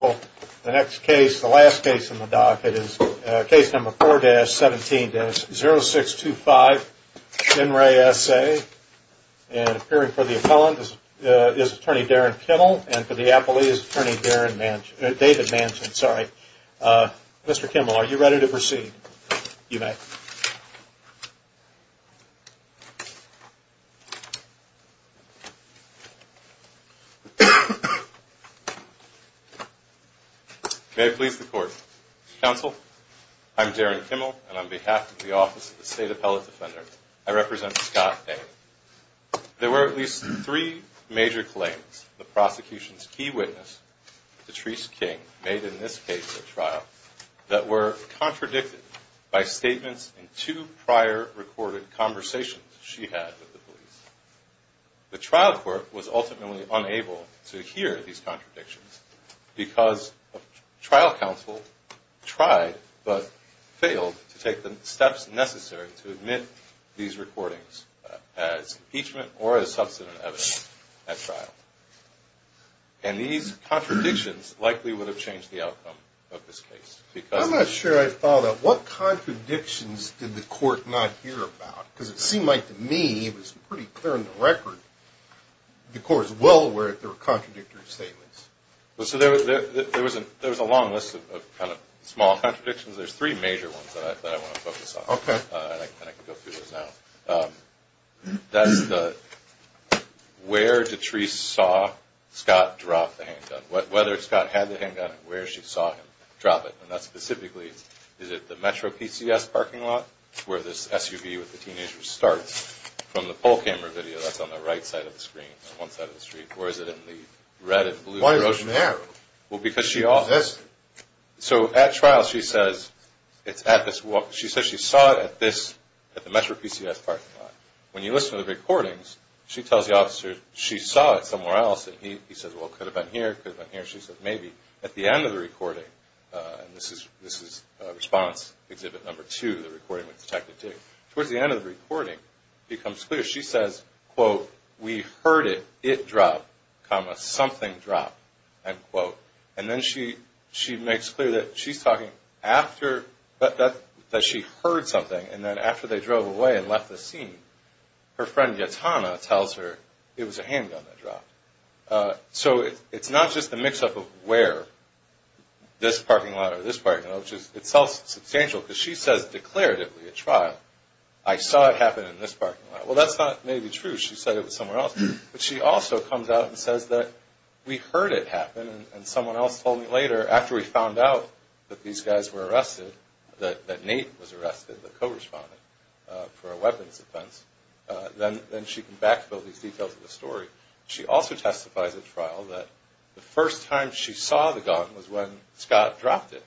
Well, the next case, the last case in the dock, it is case number four to seventeen to zero six to five in re S.A. and appearing for the appellant is attorney Darren Kendall and for the appellee is attorney Darren Manchin, David Manchin. Sorry, Mr. Kimball, are you ready to proceed? You may. May it please the court. Counsel, I'm Darren Kimball and on behalf of the Office of the State Appellate Defender, I represent Scott Bain. There were at least three major claims. The prosecution's key witness, Patrice King, made in this case a trial that were contradicted by statements in two prior recorded conversations she had with the police. The trial court was ultimately unable to hear these contradictions because trial counsel tried but failed to take the steps necessary to admit these recordings as impeachment or as And these contradictions likely would have changed the outcome of this case. Because I'm not sure I follow that. What contradictions did the court not hear about? Because it seemed like to me it was pretty clear in the record the court was well aware that there were contradictory statements. Well, so there was there was a there was a long list of kind of small contradictions. There's three major ones that I want to focus on. And I can go through those now. That's the where Patrice saw Scott drop the handgun, whether Scott had the handgun, where she saw him drop it. And that's specifically, is it the Metro PCS parking lot where this SUV with the teenager starts from the poll camera video that's on the right side of the screen on one side of the street? Or is it in the red and blue? Why is it there? Well, because she all this. So at trial, she says it's at this walk. She says she saw it at this at the Metro PCS parking lot. When you listen to the recordings, she tells the officer she saw it somewhere else. And he says, well, could have been here. Could have been here. She said, maybe at the end of the recording. And this is this is response exhibit number two. The recording was detected towards the end of the recording becomes clear. She says, quote, We heard it. It dropped, comma, something dropped, end quote. And then she she makes clear that she's talking after that, that she heard something. And then after they drove away and left the scene, her friend, Yatana, tells her it was a handgun that dropped. So it's not just the mix up of where this parking lot or this parking lot, which is itself substantial, because she says declaratively at trial. I saw it happen in this parking lot. Well, that's not maybe true. She said it was somewhere else. But she also comes out and says that we heard it happen. And someone else told me later, after we found out that these guys were arrested, that Nate was arrested, the co-respondent, for a weapons offense, then she can backfill these details of the story. She also testifies at trial that the first time she saw the gun was when Scott dropped it.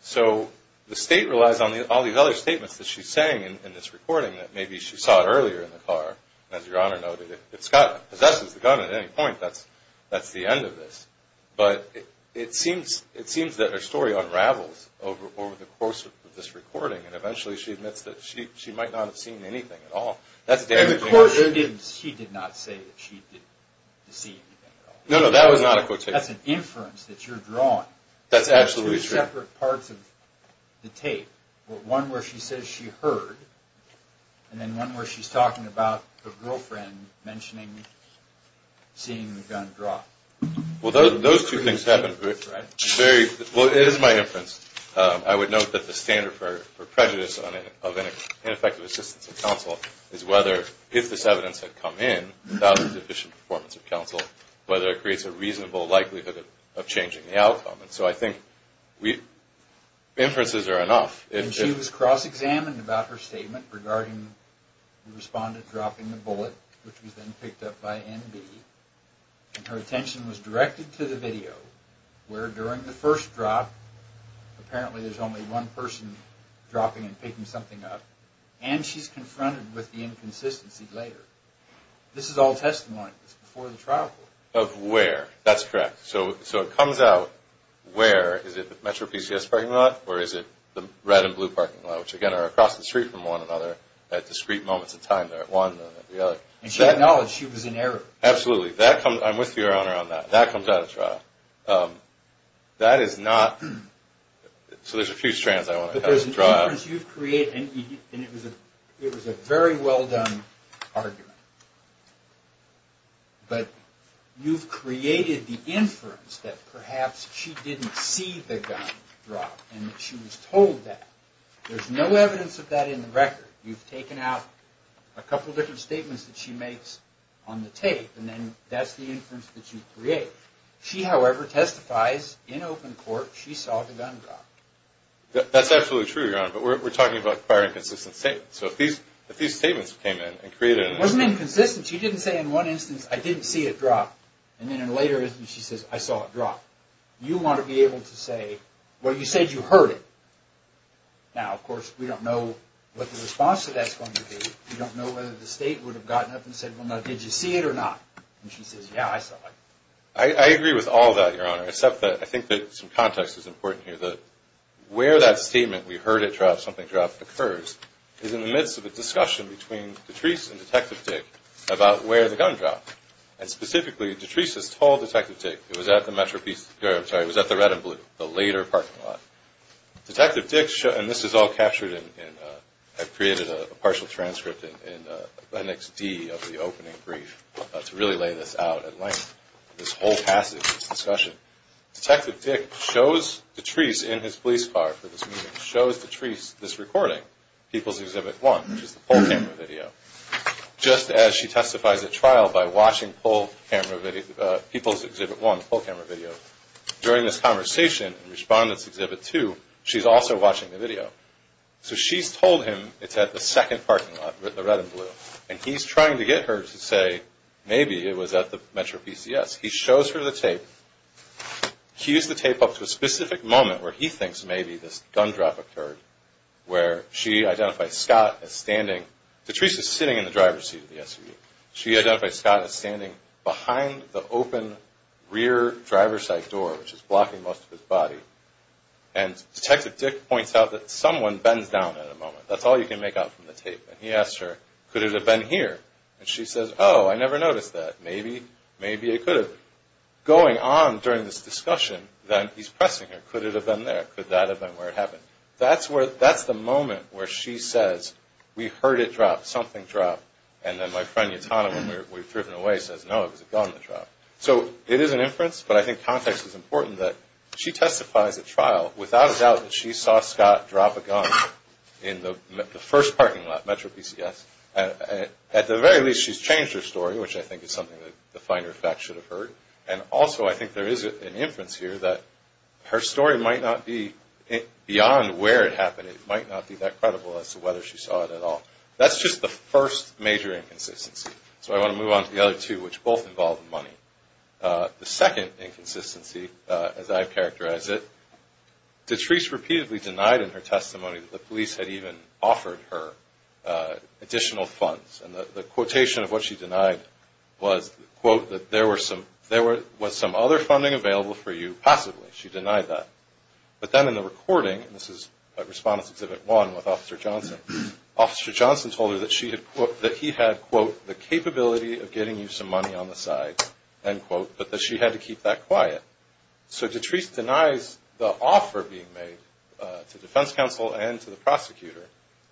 So the state relies on all these other statements that she's saying in this recording that maybe she saw it earlier in the car. As Your Honor noted, if Scott possesses the gun at any point, that's the end of this. But it seems that her story unravels over the course of this recording. And eventually she admits that she might not have seen anything at all. That's damaging. Of course she did not say that she did see anything at all. No, no, that was not a quotation. That's an inference that you're drawing. That's absolutely true. There are two separate parts of the tape. One where she says she heard, and then one where she's talking about the girlfriend mentioning seeing the gun drop. Well, those two things happen. That's right. It's very – well, it is my inference. I would note that the standard for prejudice of ineffective assistance of counsel is whether, if this evidence had come in without the deficient performance of counsel, whether it creates a reasonable likelihood of changing the outcome. So I think inferences are enough. And she was cross-examined about her statement regarding the respondent dropping the bullet, which was then picked up by NB. And her attention was directed to the video, where during the first drop, apparently there's only one person dropping and picking something up. And she's confronted with the inconsistency later. This is all testimony. It's before the trial court. Of where? That's correct. So it comes out where. Is it the Metro PCS parking lot, or is it the red and blue parking lot, which again are across the street from one another at discrete moments in time. They're at one and at the other. And she acknowledged she was in error. Absolutely. That comes – I'm with you, Your Honor, on that. That comes out of trial. That is not – so there's a few strands I want to draw out. But there's an inference you've created, and it was a very well-done argument. But you've created the inference that perhaps she didn't see the gun drop and that she was told that. There's no evidence of that in the record. You've taken out a couple different statements that she makes on the tape, and then that's the inference that you create. She, however, testifies in open court she saw the gun drop. That's absolutely true, Your Honor. But we're talking about firing consistent statements. So if these statements came in and created an inference. It wasn't inconsistent. She didn't say in one instance, I didn't see it drop. And then later she says, I saw it drop. You want to be able to say, well, you said you heard it. Now, of course, we don't know what the response to that's going to be. We don't know whether the state would have gotten up and said, well, did you see it or not? And she says, yeah, I saw it. I agree with all that, Your Honor, except that I think that some context is important here. Where that statement, we heard it drop, something dropped, occurs is in the midst of a discussion between Detrese and Detective Dick about where the gun dropped. And specifically, Detrese has told Detective Dick it was at the Metropolitan, sorry, it was at the Red and Blue, the later parking lot. Detective Dick, and this is all captured in, I created a partial transcript in NXD of the opening brief to really lay this out at length, this whole passage, this discussion. Detective Dick shows Detrese in his police car for this meeting, shows Detrese this recording, People's Exhibit 1, which is the poll camera video. Just as she testifies at trial by watching People's Exhibit 1, the poll camera video, during this conversation in Respondent's Exhibit 2, she's also watching the video. So she's told him it's at the second parking lot, the Red and Blue. And he's trying to get her to say maybe it was at the MetroPCS. He shows her the tape, cues the tape up to a specific moment where he thinks maybe this identifies Scott as standing, Detrese is sitting in the driver's seat of the SUV. She identifies Scott as standing behind the open rear driver's side door, which is blocking most of his body. And Detective Dick points out that someone bends down at a moment. That's all you can make out from the tape. And he asks her, could it have been here? And she says, oh, I never noticed that. Maybe, maybe it could have been. Going on during this discussion, then he's pressing her. Could it have been there? Could that have been where it happened? That's the moment where she says, we heard it drop, something drop. And then my friend Yatana, when we've driven away, says, no, it was a gun that dropped. So it is an inference. But I think context is important that she testifies at trial without a doubt that she saw Scott drop a gun in the first parking lot, MetroPCS. At the very least, she's changed her story, which I think is something that the finer facts should have heard. And also, I think there is an inference here that her story might not be beyond where it happened. It might not be that credible as to whether she saw it at all. That's just the first major inconsistency. So I want to move on to the other two, which both involve money. The second inconsistency, as I characterize it, Detrice repeatedly denied in her testimony that the police had even offered her additional funds. And the quotation of what she denied was, quote, that there was some other funding available for you, possibly. She denied that. But then in the recording, this is Respondents Exhibit 1 with Officer Johnson, Officer Johnson told her that he had, quote, the capability of getting you some money on the side, end quote, but that she had to keep that quiet. So Detrice denies the offer being made to defense counsel and to the prosecutor.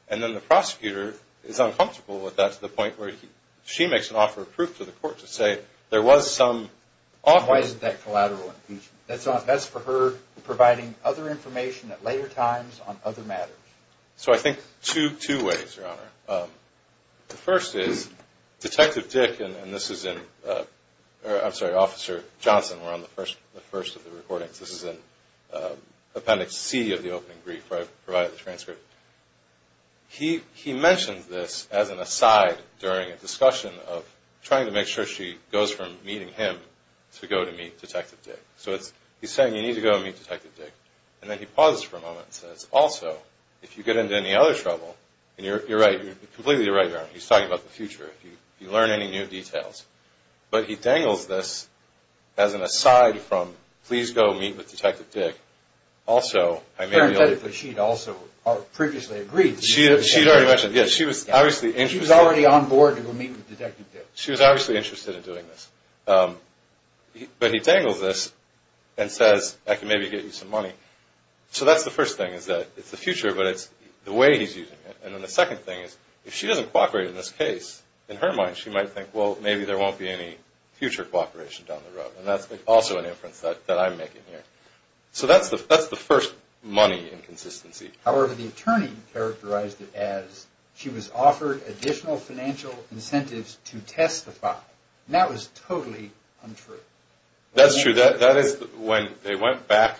And then the prosecutor is uncomfortable with that to the point where she makes an offer of proof to the court to say there was some offer. Why isn't that collateral impeachment? That's for her providing other information at later times on other matters. So I think two ways, Your Honor. The first is Detective Dick, and this is in, I'm sorry, Officer Johnson were on the first of the recordings. This is in Appendix C of the opening brief where I provided the transcript. He mentions this as an aside during a discussion of trying to make sure she goes from meeting him to go to meet Detective Dick. So he's saying you need to go and meet Detective Dick. And then he pauses for a moment and says, also, if you get into any other trouble, and you're right, you're completely right, Your Honor. He's talking about the future, if you learn any new details. But he dangles this as an aside from, please go meet with Detective Dick. Also, I may be able to. Parenthetically, she'd also previously agreed. She had already mentioned, yes, she was obviously interested. She was already on board to go meet with Detective Dick. She was obviously interested in doing this. But he dangles this and says, I can maybe get you some money. So that's the first thing, is that it's the future, but it's the way he's using it. And then the second thing is, if she doesn't cooperate in this case, in her mind, she might think, well, maybe there won't be any future cooperation down the road. And that's also an inference that I'm making here. So that's the first money inconsistency. However, the attorney characterized it as, she was offered additional financial incentives to testify. That was totally untrue. That's true. That is when they went back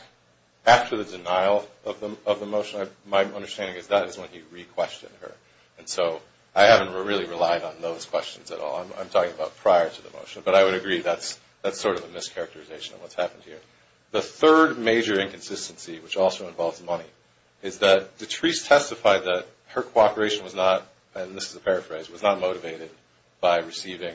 after the denial of the motion. My understanding is that is when he re-questioned her. And so I haven't really relied on those questions at all. I'm talking about prior to the motion. But I would agree that's sort of a mischaracterization of what's happened here. The third major inconsistency, which also involves money, is that Detrese testified that her cooperation was not, and this is a paraphrase, was not motivated by receiving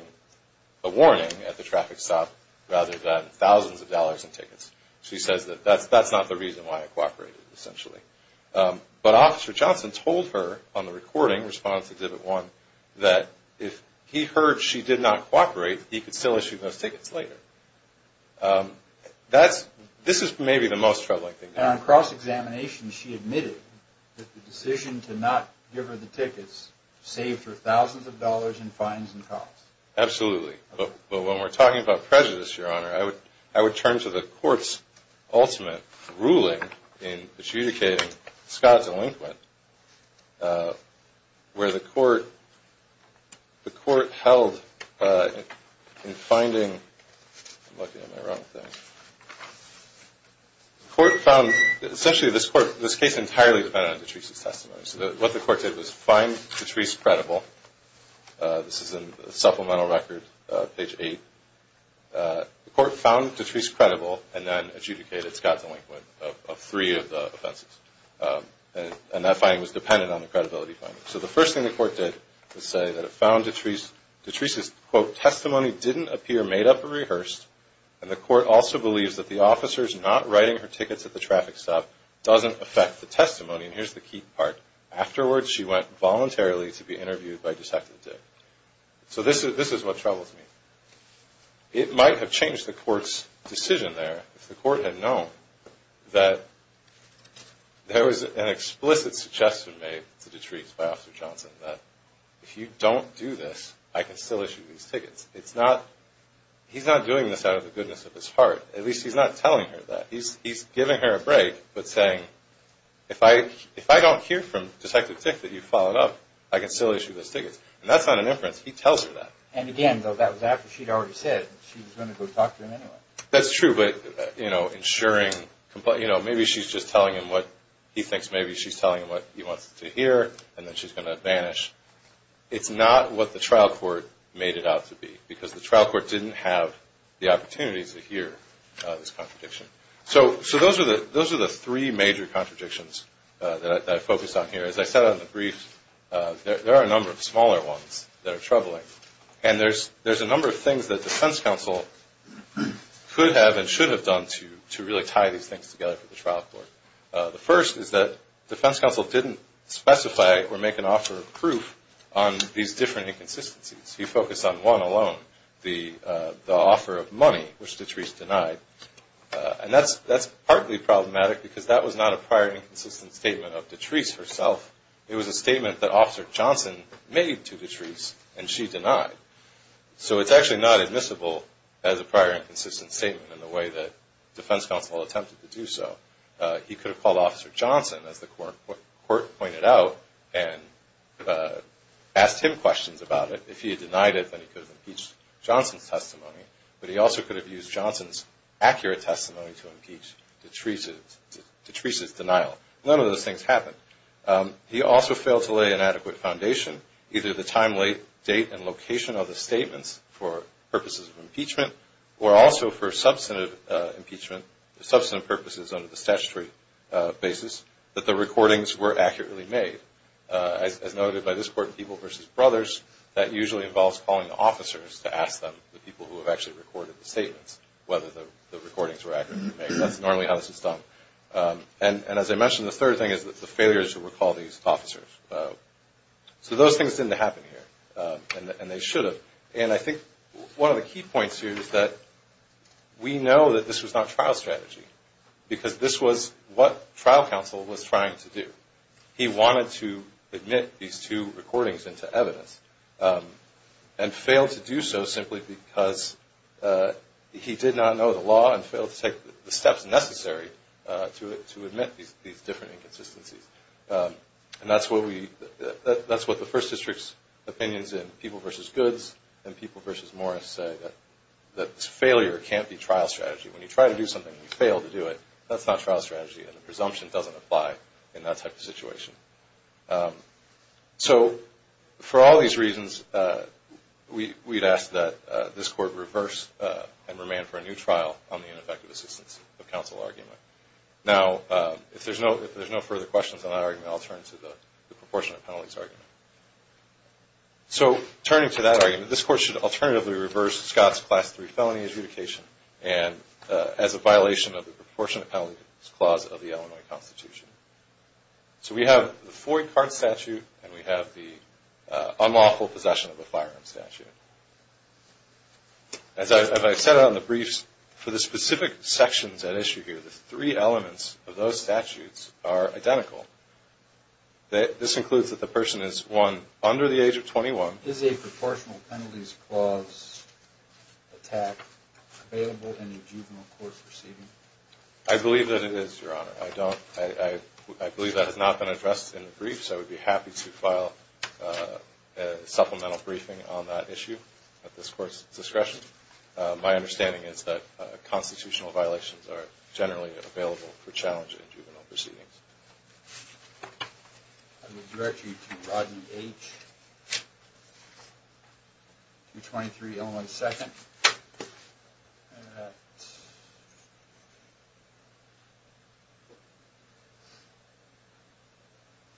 a warning at the traffic stop rather than thousands of dollars in tickets. She says that that's not the reason why I cooperated, essentially. But Officer Johnson told her on the recording, response to Divot 1, that if he heard she did not cooperate, he could still issue those tickets later. Um, that's, this is maybe the most troubling thing. And on cross-examination, she admitted that the decision to not give her the tickets saved her thousands of dollars in fines and costs. Absolutely. But when we're talking about prejudice, Your Honor, I would turn to the court's ultimate ruling in adjudicating Scott's elinquent, where the court, the court held in finding, I'm looking at my wrong thing, the court found, essentially this court, this case entirely depended on Detrese's testimony. So what the court did was find Detrese credible. This is in the supplemental record, page 8. Uh, the court found Detrese credible and then adjudicated Scott's elinquent of three of the offenses. And that finding was dependent on the credibility finding. So the first thing the court did was say that it found Detrese, Detrese's, quote, testimony didn't appear made up or rehearsed. And the court also believes that the officer's not writing her tickets at the traffic stop doesn't affect the testimony. And here's the key part. Afterwards, she went voluntarily to be interviewed by Detective Dick. So this is, this is what troubles me. It might have changed the court's decision there if the court had known that there was an explicit suggestion made to Detrese by Officer Johnson that if you don't do this, I can still issue these tickets. It's not, he's not doing this out of the goodness of his heart. At least he's not telling her that. He's, he's giving her a break, but saying, if I, if I don't hear from Detective Dick that you followed up, I can still issue those tickets. And that's not an inference. He tells her that. And again, though, that was after she'd already said she was going to go talk to him anyway. That's true. But, you know, ensuring, you know, maybe she's just telling him what he thinks. Maybe she's telling him what he wants to hear. And then she's going to vanish. It's not what the trial court made it out to be because the trial court didn't have the opportunities to hear this contradiction. So, so those are the, those are the three major contradictions that I focus on here. And there's, there's a number of things that defense counsel could have and should have done to, to really tie these things together for the trial court. The first is that defense counsel didn't specify or make an offer of proof on these different inconsistencies. He focused on one alone, the, the offer of money, which Detrice denied. And that's, that's partly problematic because that was not a prior inconsistent statement of Detrice herself. It was a statement that Officer Johnson made to Detrice and she denied. So it's actually not admissible as a prior inconsistent statement in the way that defense counsel attempted to do so. He could have called Officer Johnson, as the court pointed out, and asked him questions about it. If he had denied it, then he could have impeached Johnson's testimony. But he also could have used Johnson's accurate testimony to impeach Detrice's, Detrice's denial. None of those things happened. He also failed to lay an adequate foundation, either the time, date, and location of the statements for purposes of impeachment, or also for substantive impeachment, substantive purposes under the statutory basis, that the recordings were accurately made. As noted by this court, people versus brothers, that usually involves calling the officers to ask them, the people who have actually recorded the statements, whether the recordings were accurately made. That's normally how this is done. And as I mentioned, the third thing is that the failures to recall these officers. So those things didn't happen here and they should have. And I think one of the key points here is that we know that this was not trial strategy because this was what trial counsel was trying to do. He wanted to admit these two recordings into evidence and failed to do so simply because he did not know the law and failed to take the steps necessary to admit these different inconsistencies. And that's what we, that's what the First District's opinions in People versus Goods and People versus Morris say, that failure can't be trial strategy. When you try to do something and you fail to do it, that's not trial strategy and the presumption doesn't apply in that type of situation. So for all these reasons, we'd ask that this Court reverse and remand for a new trial on the ineffective assistance of counsel argument. Now, if there's no further questions on that argument, I'll turn to the proportionate penalties argument. So turning to that argument, this Court should alternatively reverse Scott's Class III felony adjudication as a violation of the proportionate penalties clause of the Illinois Constitution. So we have the four-card statute and we have the unlawful possession of a firearm statute. As I've said on the briefs, for the specific sections at issue here, the three elements of those statutes are identical. This includes that the person is, one, under the age of 21. Is a proportional penalties clause attack available in a juvenile court proceeding? I believe that it is, Your Honor. I believe that has not been addressed in the briefs. I would be happy to file a supplemental briefing on that issue at this Court's discretion. My understanding is that constitutional violations are generally available for challenge in juvenile proceedings. I will direct you to Rodney H., 223 Illinois 2nd, at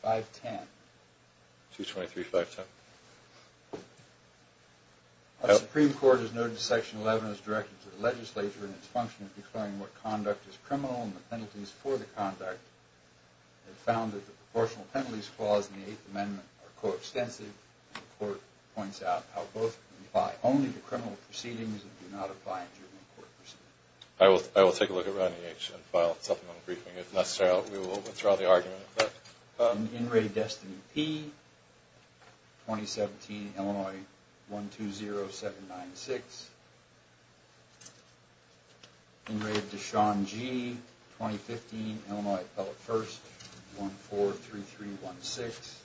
510. 223, 510. Our Supreme Court has noted that Section 11 is directed to the legislature in its function of declaring what conduct is criminal and the penalties for the conduct. It found that the proportional penalties clause in the Eighth Amendment are coextensive. The Court points out how both apply only to criminal proceedings and do not apply in juvenile court proceedings. I will take a look at Rodney H. and file a supplemental briefing. If necessary, we will withdraw the argument. In re Destiny P., 2017, Illinois 120796. In re Deshaun G., 2015, Illinois Appellate 1st, 143316.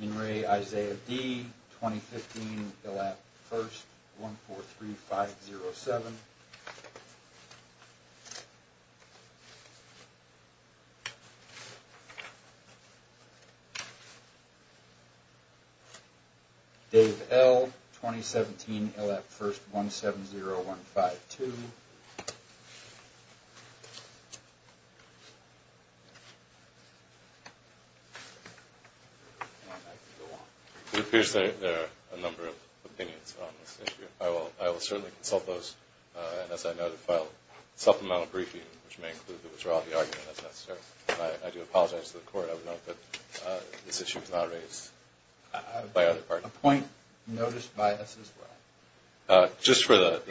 In re Isaiah D., 2015, Illap 1st, 143507. In re Dave L., 2017, Illap 1st, 170152. It appears that there are a number of opinions on this issue. I will certainly consult those and, as I noted, file a supplemental briefing, which may include the withdrawal of the argument, if necessary. I do apologize to the Court. I would note that this issue was not raised by either party. A point noticed by us as well. Just for the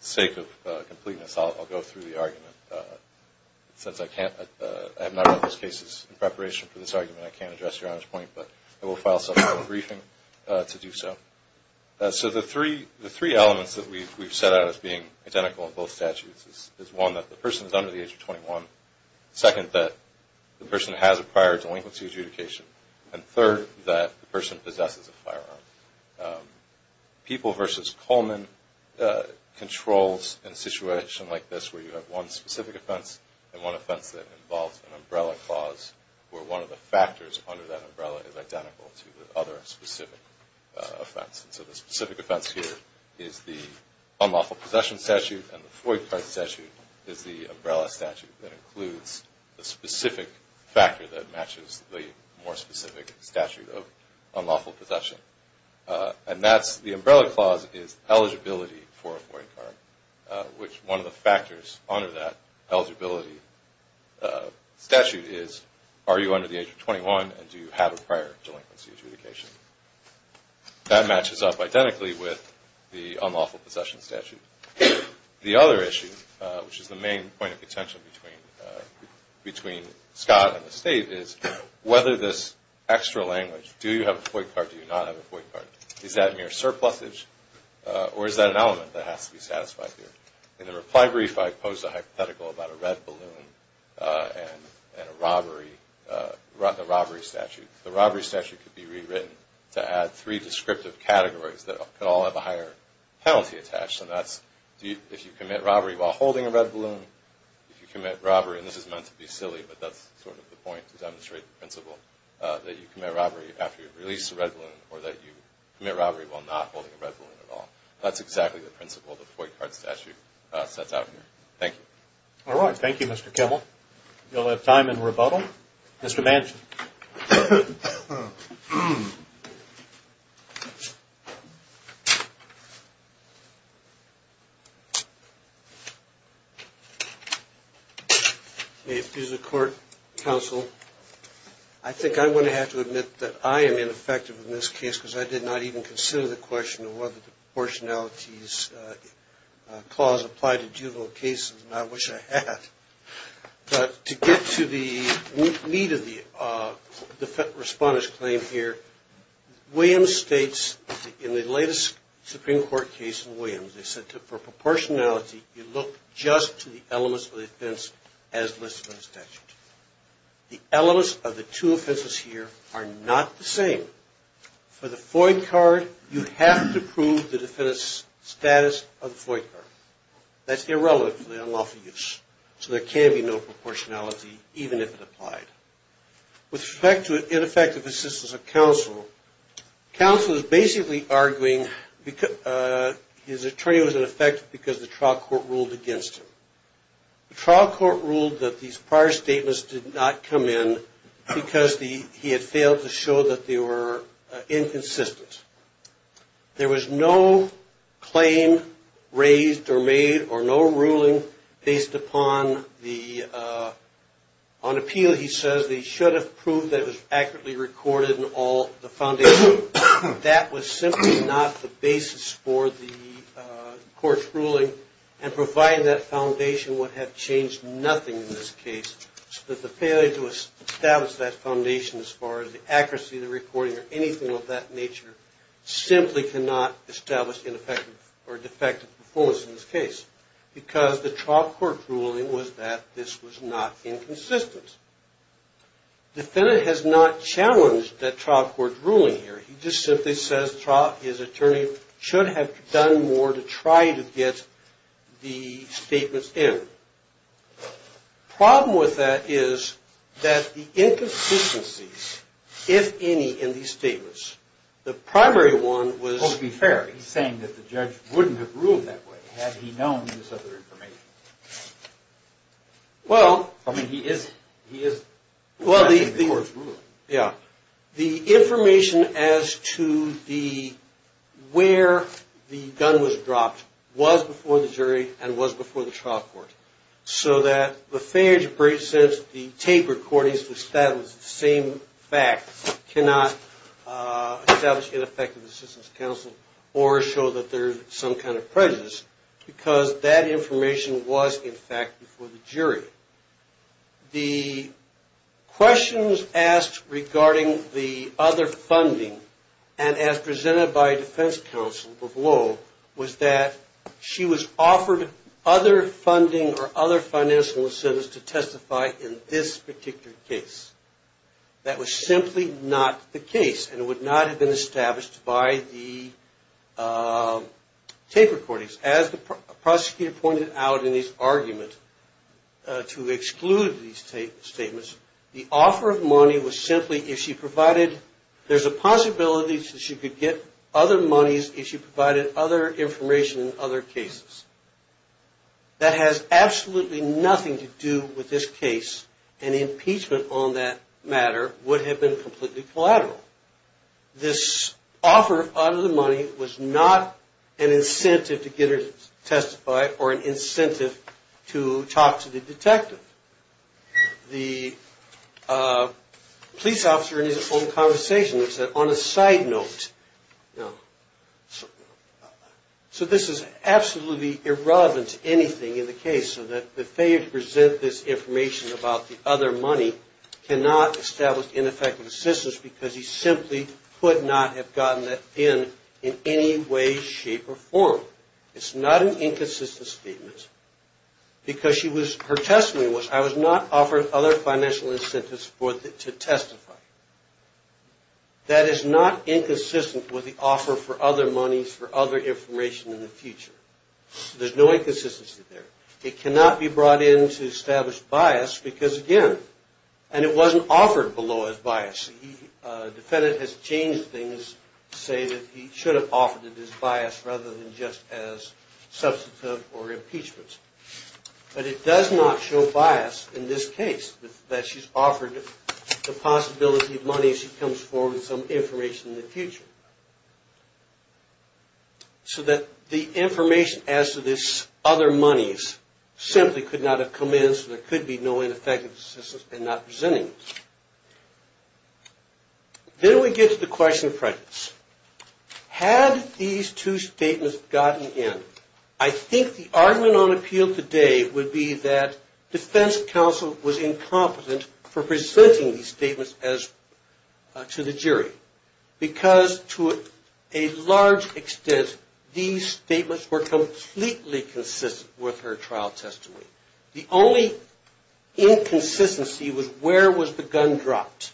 sake of completeness, I'll go through the argument. Since I have not read those cases in preparation for this argument, I can't address your honor's point, but I will file a supplemental briefing to do so. So the three elements that we've set out as being identical in both statutes is one, that the person is under the age of 21, second, that the person has a prior delinquency adjudication, and third, that the person possesses a firearm. People v. Coleman controls in a situation like this where you have one specific offense and one offense that involves an umbrella clause where one of the factors under that specific offense is the unlawful possession statute and the Floyd card statute is the umbrella statute that includes the specific factor that matches the more specific statute of unlawful possession. The umbrella clause is eligibility for a Floyd card, which one of the factors under that eligibility statute is are you under the age of 21 and do you have a prior delinquency adjudication. That matches up identically with the unlawful possession statute. The other issue, which is the main point of contention between Scott and the State, is whether this extra language, do you have a Floyd card, do you not have a Floyd card, is that mere surplusage or is that an element that has to be satisfied here? In the reply brief, I posed a hypothetical about a red balloon and a robbery statute. The robbery statute could be rewritten to add three descriptive categories that could all have a higher penalty attached and that's if you commit robbery while holding a red balloon, if you commit robbery, and this is meant to be silly, but that's sort of the point to demonstrate the principle, that you commit robbery after you've released a red balloon or that you commit robbery while not holding a red balloon at all. That's exactly the principle the Floyd card statute sets out here. Thank you. All right. Thank you, Mr. Kimmel. You'll have time in rebuttal. Mr. Manson. May it please the court, counsel. I think I'm going to have to admit that I am ineffective in this case because I did not even consider the question of whether the proportionality clause applied to juvenile cases and I wish I had. But to get to the meat of the defense respondent's claim here, Williams states in the latest Supreme Court case in Williams, they said for proportionality, you look just to the elements of the offense as listed in the statute. The elements of the two offenses here are not the same. For the Floyd card, you have to prove the defendant's status of the Floyd card. That's irrelevant for the unlawful use. So there can be no proportionality, even if it applied. With respect to ineffective assistance of counsel, counsel is basically arguing his attorney was ineffective because the trial court ruled against him. The trial court ruled that these prior statements did not come in because he had failed to show that they were inconsistent. There was no claim raised or made or no ruling based upon the, on appeal he says, they should have proved that it was accurately recorded and all the foundation. That was simply not the basis for the court's ruling and providing that foundation would have changed nothing in this case. But the failure to establish that foundation as far as the accuracy of the recording or simply cannot establish ineffective or defective performance in this case because the trial court's ruling was that this was not inconsistent. Defendant has not challenged that trial court's ruling here. He just simply says his attorney should have done more to try to get the statements in. The problem with that is that the inconsistencies, if any, in these statements, the primary one was... Well, to be fair, he's saying that the judge wouldn't have ruled that way had he known this other information. Well... I mean, he is, he is... Well, the... ...the court's ruling. Yeah. The information as to the, where the gun was dropped was before the jury and was before the trial court so that the failure to bring the tape recordings to establish the same fact cannot establish ineffective assistance to counsel or show that there's some kind of prejudice because that information was, in fact, before the jury. The questions asked regarding the other funding and as presented by defense counsel of Lowell was that she was offered other funding or other financial incentives to testify in this particular case. That was simply not the case and it would not have been established by the tape recordings. As the prosecutor pointed out in his argument to exclude these statements, the offer of money was simply if she provided... There's a possibility that she could get other monies if she provided other information in other cases. That has absolutely nothing to do with this case and impeachment on that matter would have been completely collateral. This offer of the money was not an incentive to get her to testify or an incentive to talk to the detective. The police officer in his own conversation said, on a side note, so this is absolutely irrelevant to anything in the case so that the failure to present this information about the other money cannot establish ineffective assistance because he simply could not have gotten that in in any way, shape, or form. It's not an inconsistent statement because her testimony was, I was not offered other financial incentives to testify. That is not inconsistent with the offer for other monies for other information in the future. There's no inconsistency there. It cannot be brought in to establish bias because again, and it wasn't offered below as bias. The defendant has changed things to say that he should have offered it as bias rather than just as substantive or impeachment. But it does not show bias in this case that she's offered the possibility of money if she comes forward with some information in the future. So that the information as to this other monies simply could not have come in so there could be no ineffective assistance in not presenting. Then we get to the question of prejudice. Had these two statements gotten in, I think the argument on appeal today would be that defense counsel was incompetent for presenting these statements to the jury because to a large extent these statements were completely consistent with her trial testimony. The only inconsistency was where was the gun dropped?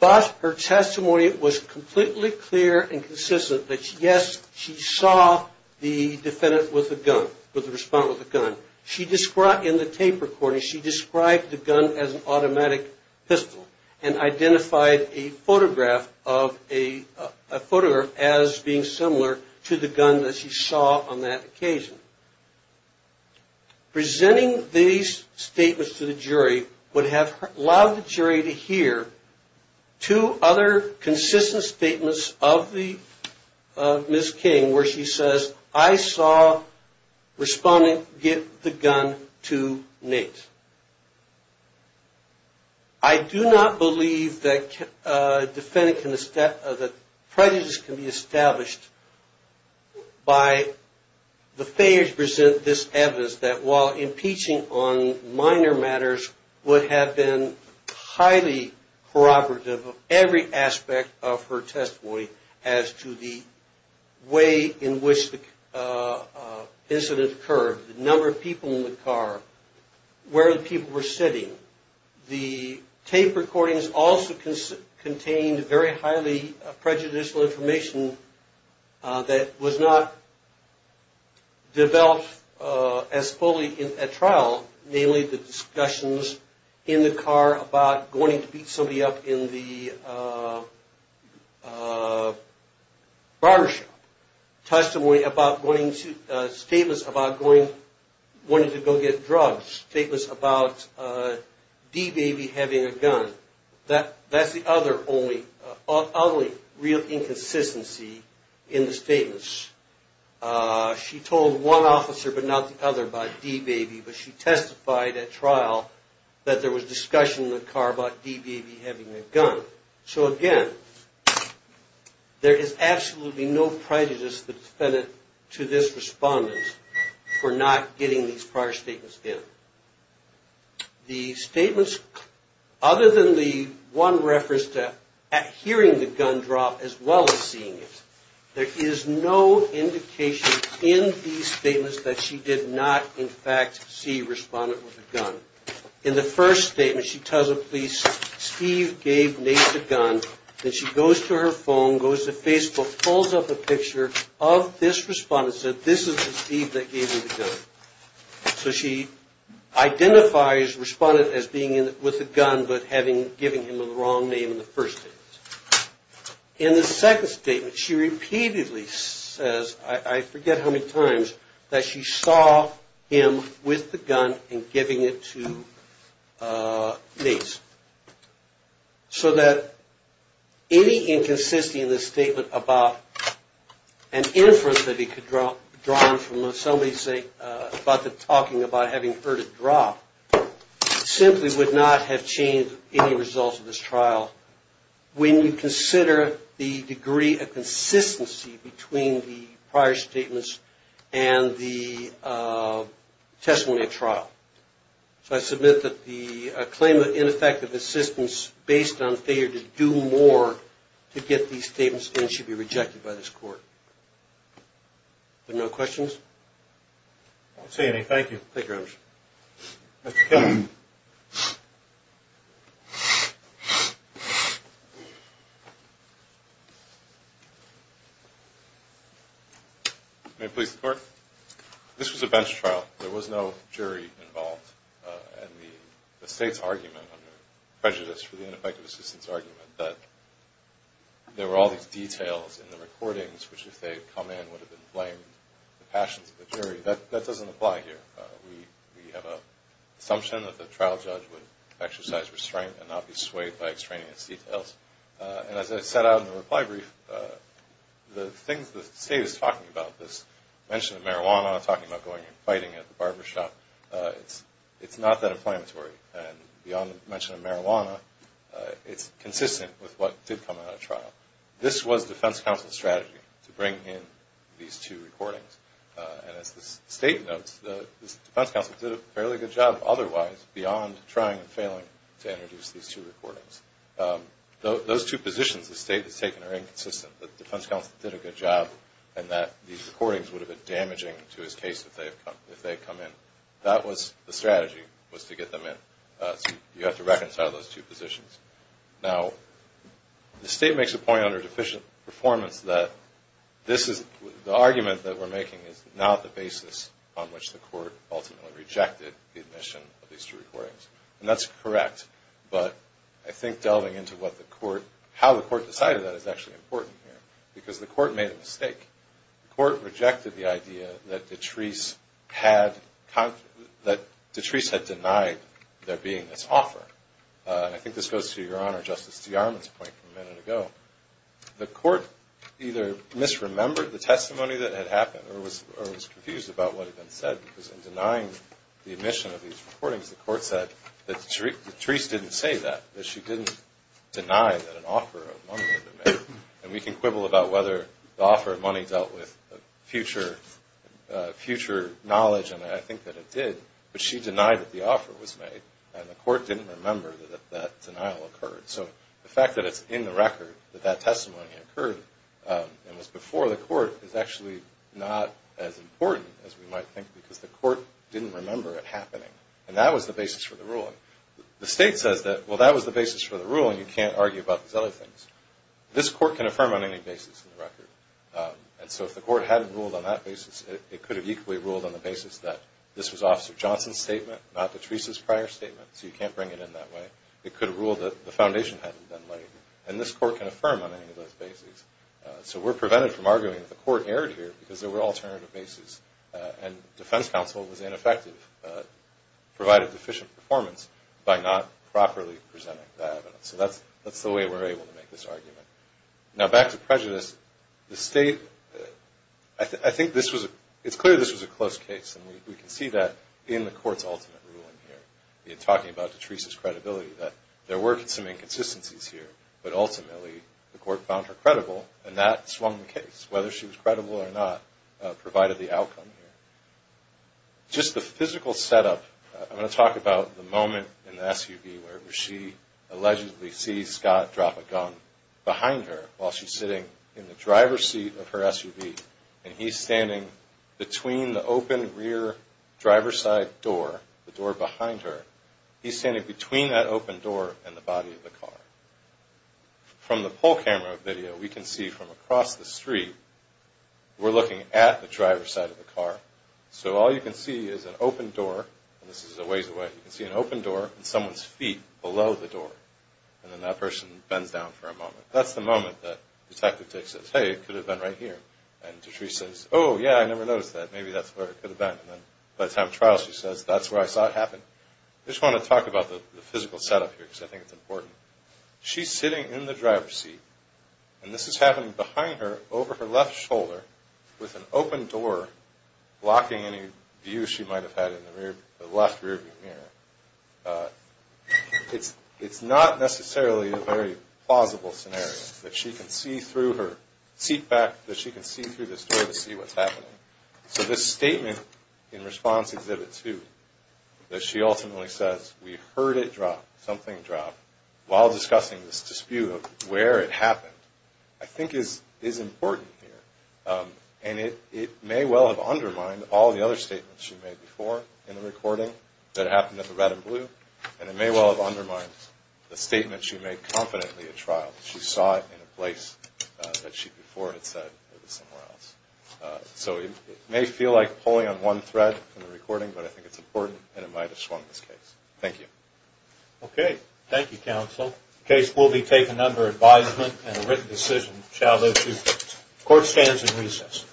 But her testimony was completely clear and consistent that yes, she saw the defendant with the gun, with the response with the gun. She described in the tape recording, she described the gun as an automatic pistol and identified a photograph of a, a photograph as being similar to the gun that she saw on that occasion. Presenting these statements to the jury would have allowed the jury to hear two other consistent statements of the, of Ms. King where she says, I saw respondent give the gun to Nate. I do not believe that defendant can, that prejudice can be established by the failure to present this evidence that while impeaching on minor matters would have been highly corroborative of every aspect of her testimony as to the way in which the incident occurred, the number of people in the car, where the people were sitting. The tape recordings also contained very highly prejudicial information that was not developed as fully at trial, namely the discussions in the car about going to beat somebody up in the barbershop. Testimony about going to, statements about going, wanting to go get drugs. Statements about D-Baby having a gun. That's the other only, only real inconsistency in the statements. She told one officer but not the other about D-Baby, but she testified at trial that there was discussion in the car about D-Baby having a gun. So again, there is absolutely no prejudice of the defendant to this respondent for not getting these prior statements in. The statements, other than the one reference to hearing the gun drop as well as seeing it, there is no indication in these statements that she did not in fact see a respondent with a gun. In the first statement, she tells the police Steve gave Nate the gun, then she goes to her phone, goes to Facebook, pulls up a picture of this respondent and says this is the Steve that gave him the gun. So she identifies respondent as being with a gun but giving him the wrong name in the first statement. In the second statement, she repeatedly says, I forget how many times, that she saw him with the gun and giving it to Nate. So that any inconsistency in the statement about an inference that he could draw from somebody's saying, about the talking about having heard it drop, simply would not have changed any results of this trial. When you consider the degree of consistency between the prior statements and the testimony at trial. So I submit that the claim of ineffective assistance based on failure to do more to get these statements in should be rejected by this court. There are no questions? I don't see any. Thank you. Thank you very much. Mr. Kelly. May it please the court. This was a bench trial. There was no jury involved. And the state's argument under prejudice for the ineffective assistance argument that there were all these details in the recordings which if they had come in would have been blamed. The passions of the jury, that doesn't apply here. We have an assumption that the trial judge would exercise restraint and not be swayed by extraneous details. And as I set out in the reply brief, the things the state is talking about, this mention of marijuana, talking about going and fighting at the barbershop, it's not that inflammatory. And beyond the mention of marijuana, it's consistent with what did come out of trial. This was defense counsel's strategy to bring in these two recordings. And as the state notes, the defense counsel did a fairly good job otherwise beyond trying and failing to introduce these two recordings. Those two positions the state has taken are inconsistent. The defense counsel did a good job and that these recordings would have been damaging to his case if they had come in. That was the strategy, was to get them in. You have to reconcile those two positions. Now, the state makes a point under deficient performance that this is, the argument that we're making is not the basis on which the court ultimately rejected the admission of these two recordings. And that's correct. But I think delving into what the court, how the court decided that is actually important here. Because the court made a mistake. The court rejected the idea that Detrese had denied there being this offer. I think this goes to your honor, Justice DeArmond's point from a minute ago. The court either misremembered the testimony that had happened or was confused about what had been said. Because in denying the admission of these recordings, the court said that Detrese didn't say that. That she didn't deny that an offer of money had been made. And we can quibble about whether the offer of money dealt with future knowledge. And I think that it did. But she denied that the offer was made. And the court didn't remember that that denial occurred. So the fact that it's in the record that that testimony occurred and was before the court is actually not as important as we might think. Because the court didn't remember it happening. And that was the basis for the ruling. The state says that, well, that was the basis for the ruling. You can't argue about these other things. This court can affirm on any basis in the record. And so if the court hadn't ruled on that basis, it could have equally ruled on the So you can't bring it in that way. It could have ruled that the foundation hadn't been laid. And this court can affirm on any of those bases. So we're prevented from arguing that the court erred here because there were alternative bases. And defense counsel was ineffective, provided deficient performance by not properly presenting that evidence. So that's the way we're able to make this argument. Now back to prejudice. The state, I think this was, it's clear this was a close case. And we can see that in the court's ultimate ruling here. In talking about DeTresa's credibility, that there were some inconsistencies here. But ultimately, the court found her credible. And that swung the case. Whether she was credible or not provided the outcome here. Just the physical setup, I'm going to talk about the moment in the SUV where she allegedly sees Scott drop a gun behind her while she's sitting in the driver's seat of her SUV. And he's standing between the open rear driver's side door, the door behind her. He's standing between that open door and the body of the car. From the poll camera video, we can see from across the street, we're looking at the driver's side of the car. So all you can see is an open door. And this is a ways away. You can see an open door and someone's feet below the door. And then that person bends down for a moment. That's the moment that Detective Dix says, hey, it could have been right here. And Patrice says, oh, yeah, I never noticed that. Maybe that's where it could have been. And then by the time of trial, she says, that's where I saw it happen. I just want to talk about the physical setup here because I think it's important. She's sitting in the driver's seat. And this is happening behind her over her left shoulder with an open door blocking any view she might have had in the left rear view mirror. It's not necessarily a very plausible scenario that she can see through her seat back, that she can see through this door to see what's happening. So this statement in response to Exhibit 2 that she ultimately says, we heard it drop, something drop, while discussing this dispute of where it happened, I think is important here. And it may well have undermined all the other statements she made before in the recording that happened at the red and blue. And it may well have undermined the statement she made confidently at trial. She saw it in a place that she before had said it was somewhere else. So it may feel like pulling on one thread in the recording, but I think it's important and it might have swung this case. Thank you. Okay. Thank you, counsel. The case will be taken under advisement and a written decision shall live two days. Court stands in recess.